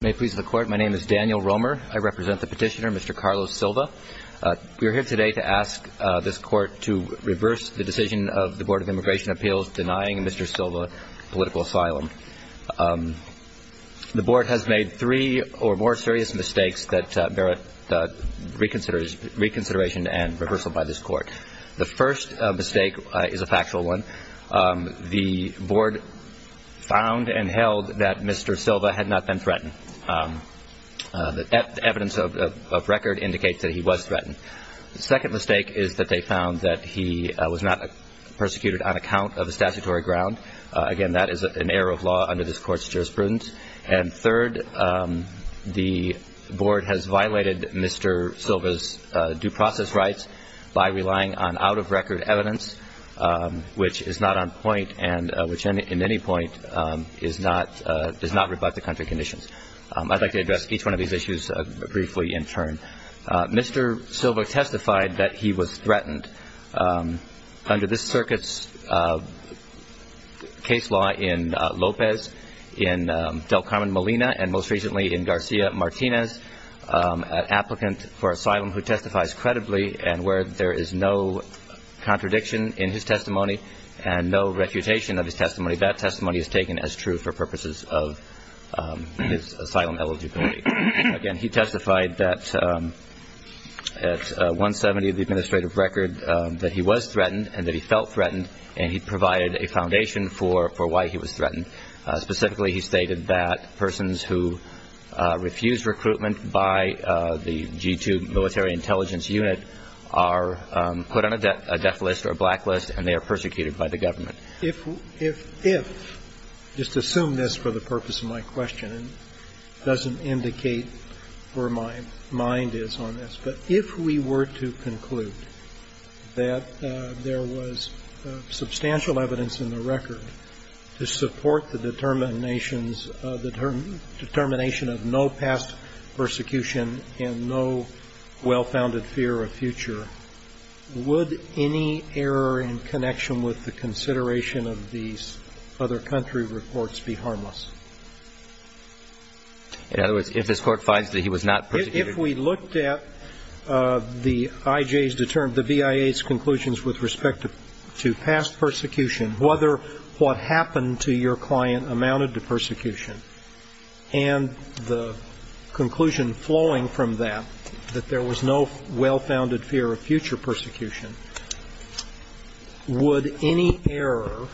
May it please the court, my name is Daniel Romer. I represent the petitioner, Mr. Carlos Silva. We are here today to ask this court to reverse the decision of the Board of Immigration Appeals denying Mr. Silva political asylum. The board has made three or more serious mistakes that bear reconsideration and reversal by this court. The first mistake is a factual one. The board found and held that Mr. Silva had not been threatened. The evidence of record indicates that he was threatened. The second mistake is that they found that he was not persecuted on account of a statutory ground. Again, that is an error of law under this court's jurisprudence. And third, the board has violated Mr. Silva's due process rights by relying on out-of-record evidence, which is not on point and which in any point does not rebut the country conditions. I'd like to address each one of these issues briefly in turn. Mr. Silva testified that he was threatened under this circuit's case law in Lopez, in Del Carmen Molina, and most recently in Garcia Martinez, an applicant for asylum who testifies credibly and where there is no contradiction in his testimony and no refutation of his testimony. That testimony is taken as true for purposes of his asylum eligibility. Again, he testified that at 170 of the administrative record that he was threatened and that he felt threatened, and he provided a foundation for why he was threatened. Specifically, he stated that persons who refuse recruitment by the G-2 military intelligence unit are put on a death list or a blacklist, and they are persecuted by the government. If we were to conclude that there was substantial evidence in the record to support the determinations, the determination of no past persecution and no well-founded fear of future, would any error in connection with the consideration of these other country reports be harmless? In other words, if this Court finds that he was not persecuted? If we looked at the IJ's determined, the BIA's conclusions with respect to past persecution, whether what happened to your client amounted to persecution, and the conclusion flowing from that, that there was no well-founded fear of future persecution, would any error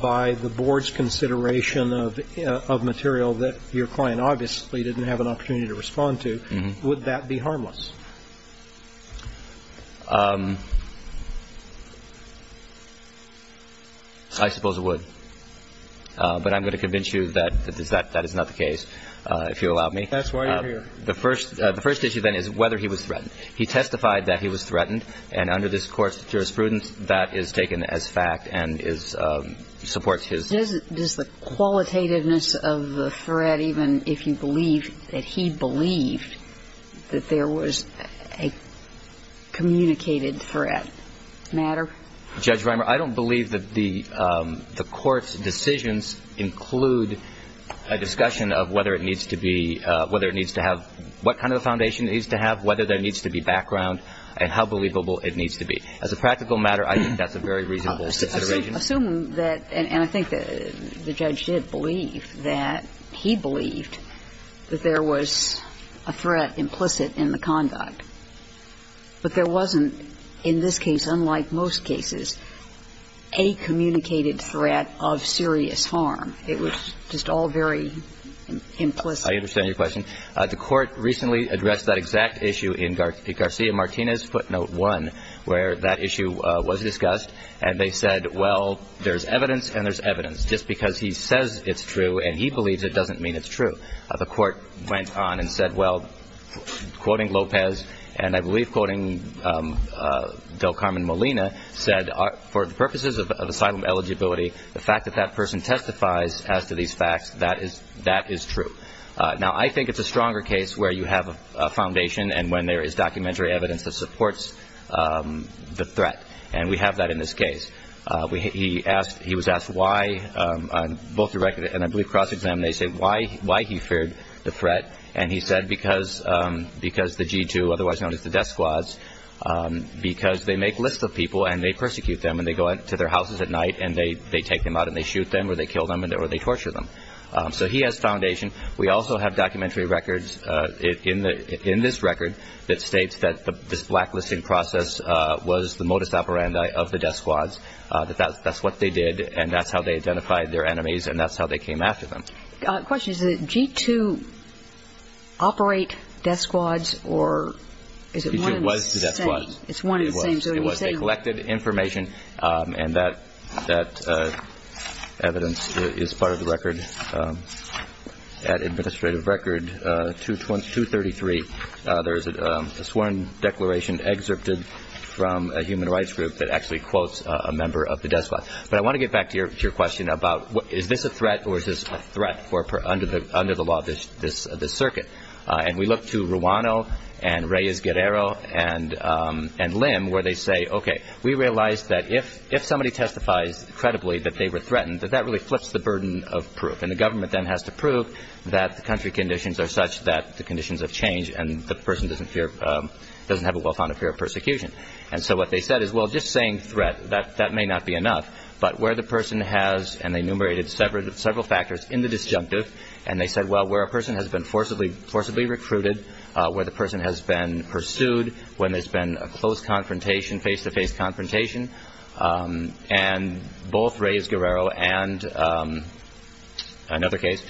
by the Board's consideration of material that your client obviously didn't have an opportunity to respond to, would that be harmless? I suppose it would. But I'm going to convince you that that is not the case, if you'll allow me. That's why you're here. The first issue, then, is whether he was threatened. He testified that he was threatened. And under this Court's jurisprudence, that is taken as fact and supports his ---- Does the qualitativeness of the threat, even if you believe that he believed that there was a communicated threat, matter? Judge Rimer, I don't believe that the Court's decisions include a discussion of whether it needs to be ---- what kind of a foundation it needs to have, whether there needs to be background, and how believable it needs to be. As a practical matter, I think that's a very reasonable consideration. Assume that, and I think the judge did believe that he believed that there was a threat implicit in the conduct. But there wasn't, in this case, unlike most cases, a communicated threat of serious harm. It was just all very implicit. I understand your question. The Court recently addressed that exact issue in Garcia-Martinez footnote 1, where that issue was discussed. And they said, well, there's evidence and there's evidence. Just because he says it's true and he believes it doesn't mean it's true. The Court went on and said, well, quoting Lopez, and I believe quoting Del Carmen Molina, said, for the purposes of asylum eligibility, the fact that that person testifies as to these facts, that is true. Now, I think it's a stronger case where you have a foundation and when there is documentary evidence that supports the threat. And we have that in this case. He was asked why, on both the record and I believe cross-examination, why he feared the threat. And he said because the G2, otherwise known as the death squads, because they make lists of people and they persecute them. And they go into their houses at night and they take them out and they shoot them or they kill them or they torture them. So he has foundation. We also have documentary records in this record that states that this blacklisting process was the modus operandi of the death squads, that that's what they did and that's how they identified their enemies and that's how they came after them. Question, does the G2 operate death squads or is it one of the same? It was the death squads. It's one of the same. They collected information and that evidence is part of the record. At Administrative Record 233, there is a sworn declaration excerpted from a human rights group that actually quotes a member of the death squad. But I want to get back to your question about is this a threat or is this a threat under the law of this circuit? And we look to Ruano and Reyes-Guerrero and Lim where they say, okay, we realize that if somebody testifies credibly that they were threatened, that that really flips the burden of proof. And the government then has to prove that the country conditions are such that the conditions have changed and the person doesn't have a well-founded fear of persecution. And so what they said is, well, just saying threat, that may not be enough, but where the person has, and they enumerated several factors in the disjunctive, and they said, well, where a person has been forcibly recruited, where the person has been pursued, when there's been a close confrontation, face-to-face confrontation, and both Reyes-Guerrero and another case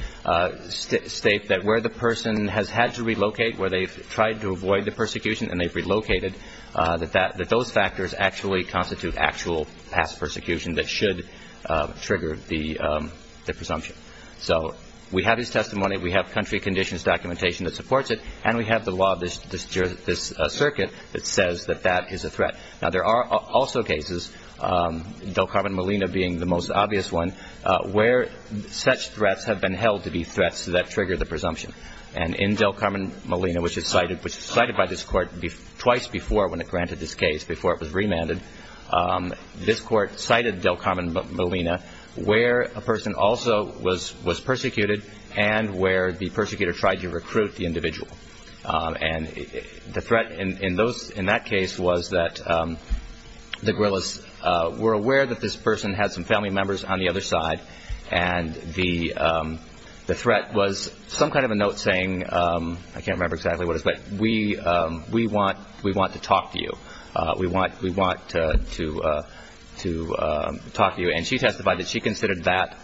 state that where the person has had to relocate, where they've tried to avoid the persecution and they've relocated, that those factors actually constitute actual past persecution that should trigger the presumption. So we have his testimony, we have country conditions documentation that supports it, and we have the law of this circuit that says that that is a threat. Now, there are also cases, Del Carmen Molina being the most obvious one, where such threats have been held to be threats that trigger the presumption. And in Del Carmen Molina, which was cited by this court twice before when it granted this case, before it was remanded, this court cited Del Carmen Molina where a person also was persecuted and where the persecutor tried to recruit the individual. And the threat in that case was that the guerrillas were aware that this person had some family members on the other side, and the threat was some kind of a note saying, I can't remember exactly what it was, but we want to talk to you, we want to talk to you. And she testified that she considered that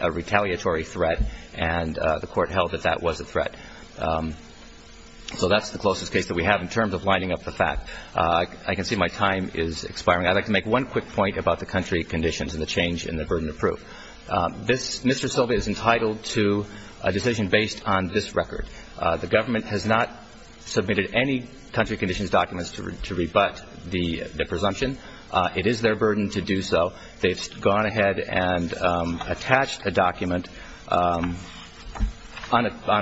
a retaliatory threat, and the court held that that was a threat. So that's the closest case that we have in terms of lining up the fact. I can see my time is expiring. I'd like to make one quick point about the country conditions and the change in the burden of proof. Mr. Silva is entitled to a decision based on this record. The government has not submitted any country conditions documents to rebut the presumption. It is their burden to do so. They've gone ahead and attached a document on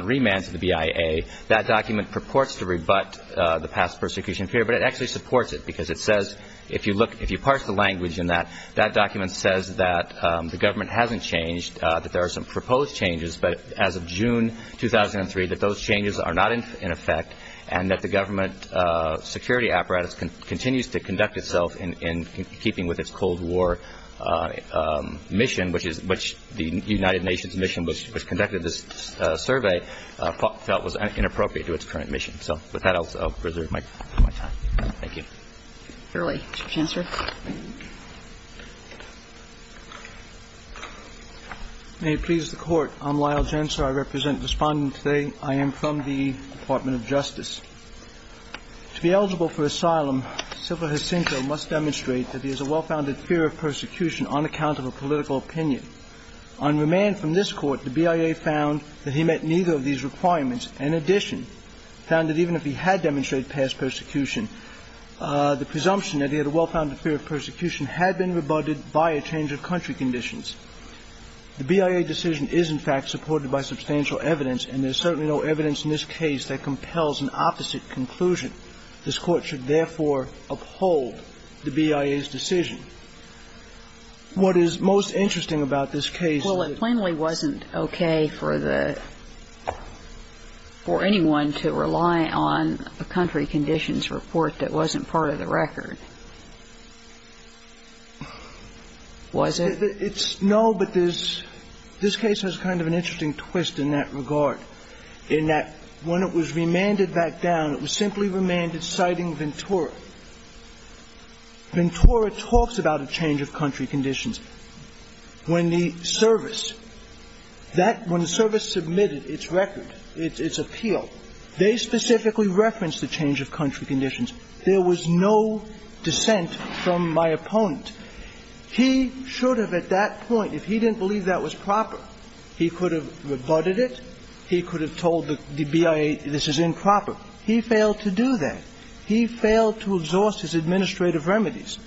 remand to the BIA. That document purports to rebut the past persecution of fear, but it actually supports it because it says, if you parse the language in that, that document says that the government hasn't changed, that there are some proposed changes, but as of June 2003, that those changes are not in effect, and that the government security apparatus continues to conduct itself in keeping with its Cold War mission, which the United Nations mission which conducted this survey felt was inappropriate to its current mission. So with that, I'll preserve my time. Thank you. Fairway. Mr. Chancellor. May it please the Court. I'm Lyle Jentzer. I represent the Respondent today. I am from the Department of Justice. To be eligible for asylum, Silva Jacinto must demonstrate that there's a well-founded fear of persecution on account of a political opinion. On remand from this Court, the BIA found that he met neither of these requirements. In addition, found that even if he had demonstrated past persecution, the presumption that he had a well-founded fear of persecution had been rebutted by a change of country conditions. The BIA decision is, in fact, supported by substantial evidence, and there's certainly no evidence in this case that compels an opposite conclusion. This Court should, therefore, uphold the BIA's decision. And I'm not going to ask for anyone to rely on a country conditions report that wasn't part of the record. Was it? No, but there's – this case has kind of an interesting twist in that regard, in that when it was remanded back down, it was simply remanded citing Ventura. Ventura talks about a change of country conditions. When the service – that – when the service submitted its record, its appeal, they specifically referenced the change of country conditions. There was no dissent from my opponent. He should have at that point, if he didn't believe that was proper, he could have rebutted it, he could have told the BIA this is improper. He failed to do that. He failed to exhaust his administrative remedies.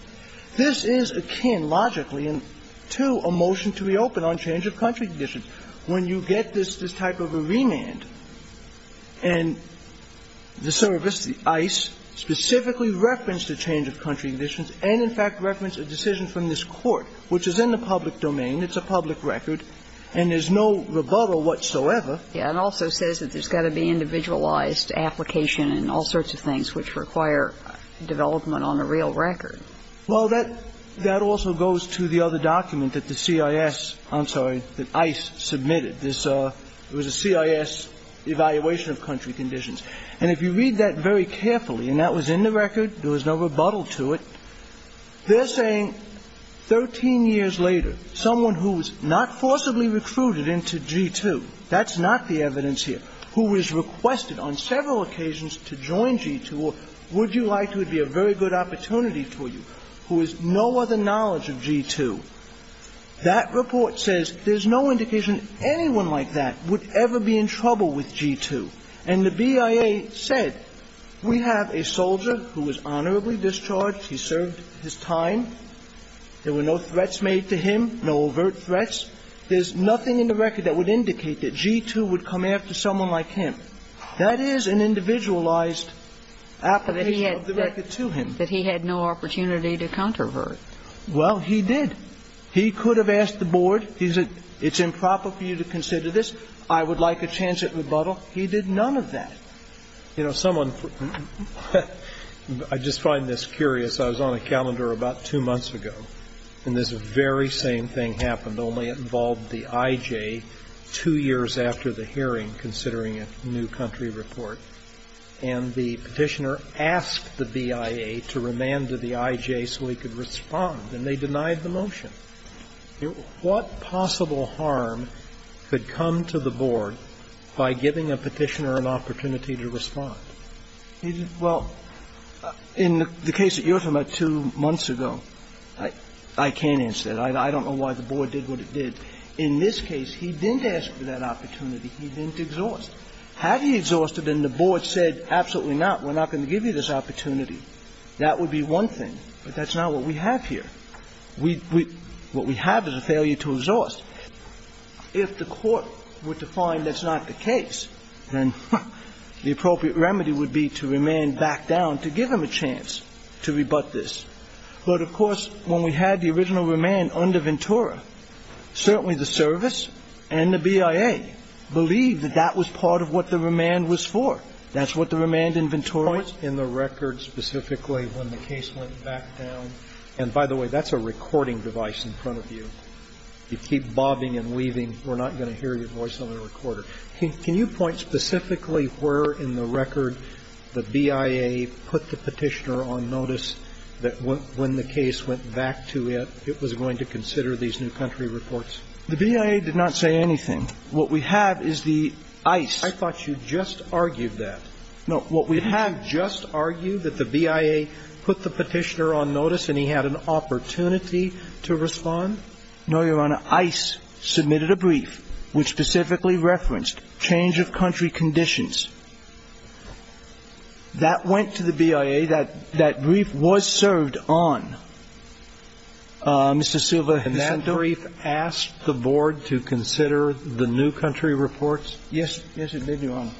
This is akin, logically, to a motion to reopen on change of country conditions. When you get this type of a remand, and the service, the ICE, specifically referenced a change of country conditions and, in fact, referenced a decision from this Court, which is in the public domain, it's a public record, and there's no rebuttal whatsoever. Yeah, and also says that there's got to be individualized application and all sorts of things which require development on a real record. Well, that also goes to the other document that the CIS – I'm sorry, that ICE submitted. This was a CIS evaluation of country conditions. And if you read that very carefully, and that was in the record, there was no rebuttal to it, they're saying 13 years later, someone who was not forcibly recruited into G2, that's not the evidence here, who was requested on several occasions to join G2, or would you like to, it would be a very good opportunity for you, who has no other knowledge of G2. That report says there's no indication anyone like that would ever be in trouble with G2. And the BIA said, we have a soldier who was honorably discharged. He served his time. There were no threats made to him, no overt threats. There's nothing in the record that would indicate that G2 would come after someone like him. That is an individualized application of the record to him. But he had no opportunity to controvert. Well, he did. He could have asked the board, he said, it's improper for you to consider this. I would like a chance at rebuttal. He did none of that. You know, someone – I just find this curious. I was on a calendar about two months ago, and this very same thing happened. I was on a calendar about two months ago, and this very same thing happened. And the petitioner asked the BIA to remand to the IJ so he could respond, and they denied the motion. And the petitioner asked the BIA to remand to the IJ so he could respond, and they denied the motion. What possible harm could come to the board by giving a petitioner an opportunity to respond? Well, in the case that you're talking about two months ago, I can't answer that. I don't know why the board did what it did. In this case, he didn't ask for that opportunity. He didn't exhaust. Had he exhausted and the board said, absolutely not, we're not going to give you this opportunity, that would be one thing. But that's not what we have here. We – what we have is a failure to exhaust. If the court were to find that's not the case, then the appropriate remedy would be to remand back down to give him a chance to rebut this. But, of course, when we had the original remand under Ventura, certainly the service and the BIA believed that that was part of what the remand was for. That's what the remand in Ventura was. In the record specifically when the case went back down – and, by the way, that's a recording device in front of you. If you keep bobbing and weaving, we're not going to hear your voice on the recorder. Can you point specifically where in the record the BIA put the Petitioner on notice that when the case went back to it, it was going to consider these new country reports? The BIA did not say anything. What we have is the ice. I thought you just argued that. No, what we have just argued that the BIA put the Petitioner on notice and he had an opportunity to respond. No, Your Honor. Ice submitted a brief which specifically referenced change of country conditions. That went to the BIA. That brief was served on. Mr. Silva, Mr. – And that brief asked the Board to consider the new country reports? Yes. Yes, it did, Your Honor.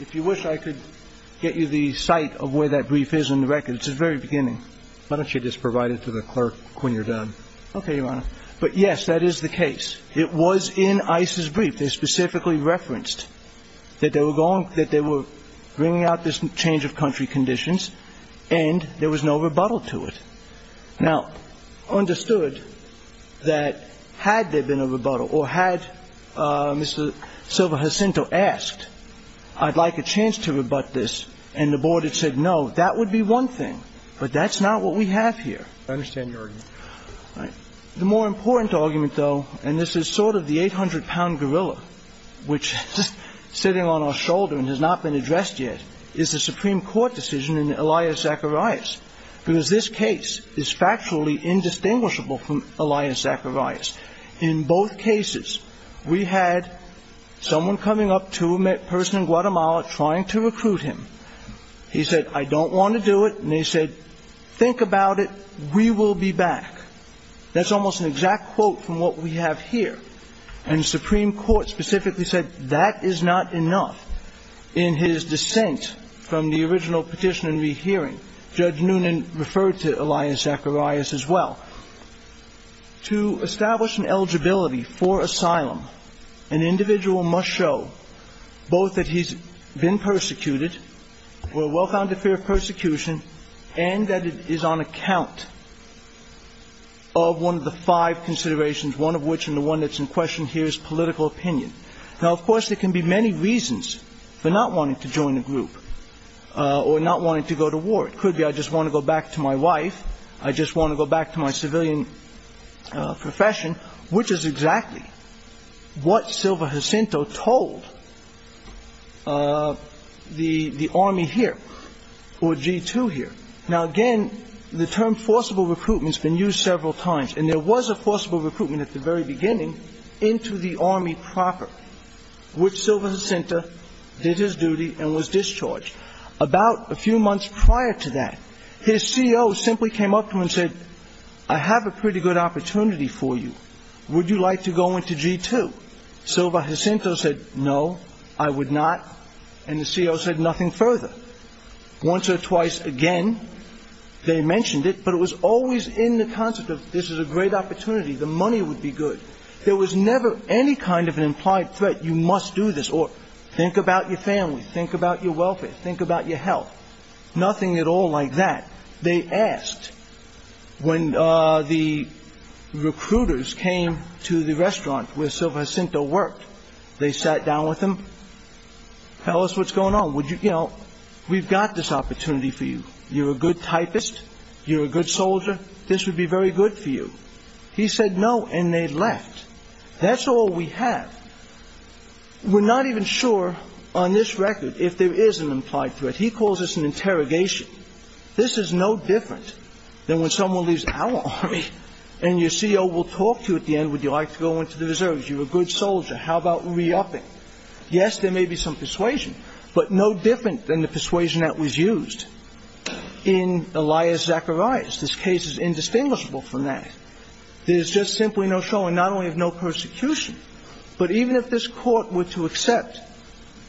If you wish, I could get you the site of where that brief is in the record. It's at the very beginning. Why don't you just provide it to the clerk when you're done? Okay, Your Honor. But, yes, that is the case. It was in Ice's brief. They specifically referenced that they were bringing out this change of country conditions and there was no rebuttal to it. Now, understood that had there been a rebuttal or had Mr. Silva Jacinto asked, I'd like a chance to rebut this, and the Board had said no, that would be one thing. But that's not what we have here. I understand your argument. The more important argument, though, and this is sort of the 800-pound gorilla, which is sitting on our shoulder and has not been addressed yet, is the Supreme Court decision in Elias Zacharias, because this case is factually indistinguishable from Elias Zacharias. In both cases, we had someone coming up to a person in Guatemala trying to recruit him. He said, I don't want to do it. And they said, think about it. We will be back. That's almost an exact quote from what we have here. And the Supreme Court specifically said that is not enough. In his dissent from the original petition and rehearing, Judge Noonan referred to Elias Zacharias as well. To establish an eligibility for asylum, an individual must show both that he's been persecuted or well-founded fear of persecution and that it is on account of one of the five considerations, one of which and the one that's in question here is political opinion. Now, of course, there can be many reasons for not wanting to join a group or not wanting to go to war. It could be I just want to go back to my wife, I just want to go back to my civilian profession, which is exactly what Silva Jacinto told the Army here or G2 here. Now, again, the term forcible recruitment has been used several times, and there was a forcible recruitment at the very beginning into the Army proper, which Silva Jacinto did his duty and was discharged. About a few months prior to that, his CO simply came up to him and said, I have a pretty good opportunity for you. Would you like to go into G2? Silva Jacinto said, no, I would not. And the CO said nothing further. Once or twice again, they mentioned it, but it was always in the concept of this is a great opportunity. The money would be good. There was never any kind of an implied threat. You must do this or think about your family, think about your welfare, think about your health. Nothing at all like that. They asked when the recruiters came to the restaurant where Silva Jacinto worked. They sat down with him. Tell us what's going on. Would you? We've got this opportunity for you. You're a good typist. You're a good soldier. This would be very good for you. He said no. And they left. That's all we have. We're not even sure on this record if there is an implied threat. He calls this an interrogation. This is no different than when someone leaves our Army and your CO will talk to you at the end. Would you like to go into the reserves? You're a good soldier. How about re-upping? Yes, there may be some persuasion, but no different than the persuasion that was used in Elias Zacharias. This case is indistinguishable from that. There's just simply no showing, not only of no persecution, but even if this Court were to accept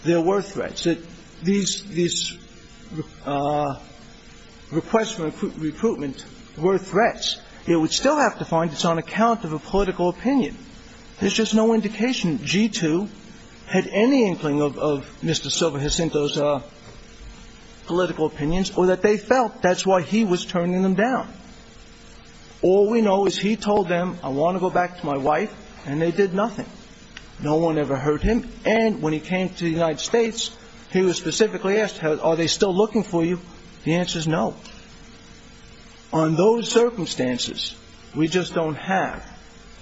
there were threats, that these requests for recruitment were threats, it would still have to find it's on account of a political opinion. There's just no indication G2 had any inkling of Mr. Silva Jacinto's political opinions or that they felt that's why he was turning them down. All we know is he told them, I want to go back to my wife, and they did nothing. No one ever heard him. And when he came to the United States, he was specifically asked, are they still looking for you? The answer is no. On those circumstances, we just don't have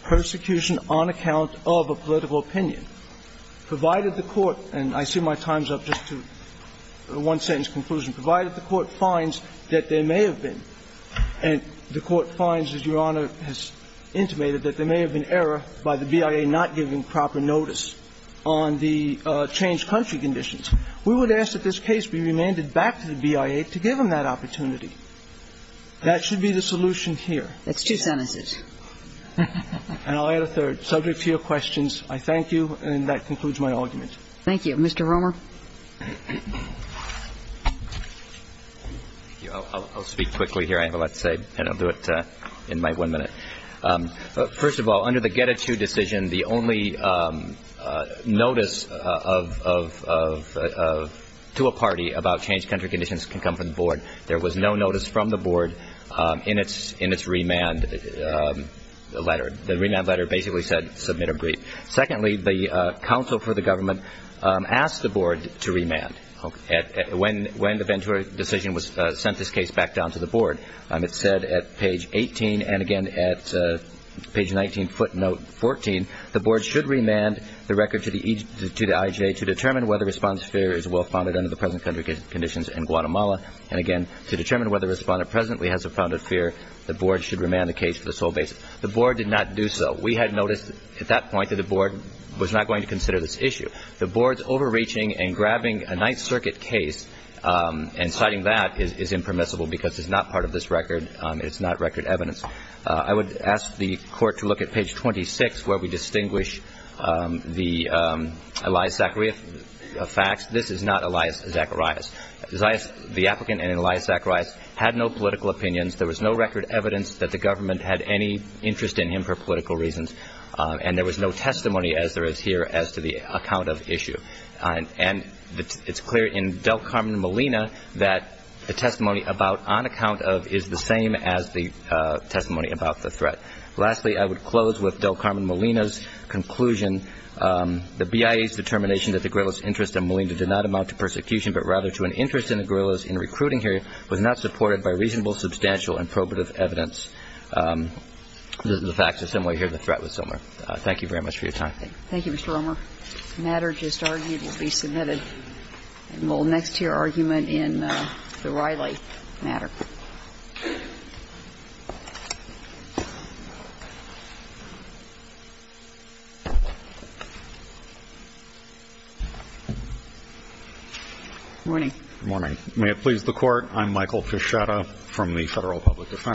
persecution on account of a political opinion, provided the Court, and I see my time's up just to one sentence conclusion, provided the Court finds that there may have been, and the Court finds, as Your Honor has intimated, that there may have been error by the BIA not giving proper notice on the changed country conditions. We would ask that this case be remanded back to the BIA to give them that opportunity. That should be the solution here. That's two sentences. And I'll add a third. Subject to your questions, I thank you, and that concludes my argument. Mr. Romer. I'll speak quickly here. I have a lot to say, and I'll do it in my one minute. First of all, under the Getachew decision, the only notice to a party about changed country conditions can come from the Board. There was no notice from the Board in its remand letter. Secondly, the counsel for the government asked the Board to remand when the Ventura decision sent this case back down to the Board. It said at page 18, and again at page 19, footnote 14, the Board should remand the record to the IJA to determine whether a response to fear is well-founded under the present country conditions in Guatemala, and again, to determine whether a responder presently has a founded fear, the Board should remand the case for this whole basis. The Board did not do so. We had noticed at that point that the Board was not going to consider this issue. The Board's overreaching and grabbing a Ninth Circuit case and citing that is impermissible because it's not part of this record. It's not record evidence. I would ask the Court to look at page 26 where we distinguish the Elias Zacharias facts. This is not Elias Zacharias. The applicant in Elias Zacharias had no political opinions. There was no record evidence that the government had any interest in him for political reasons, and there was no testimony as there is here as to the account of issue. And it's clear in Del Carmen Molina that the testimony about on account of is the same as the testimony about the threat. Lastly, I would close with Del Carmen Molina's conclusion, the BIA's determination that the guerrillas' interest in Molina did not amount to persecution but rather to an interest in the guerrillas in recruiting here was not supported by reasonable, substantial, and probative evidence. The facts are similar here. The threat was similar. Thank you very much for your time. Thank you, Mr. Romer. The matter just argued will be submitted. And we'll next to your argument in the Riley matter. Good morning. Good morning. May it please the Court, I'm Michael Fischotta from the Federal Public Defense.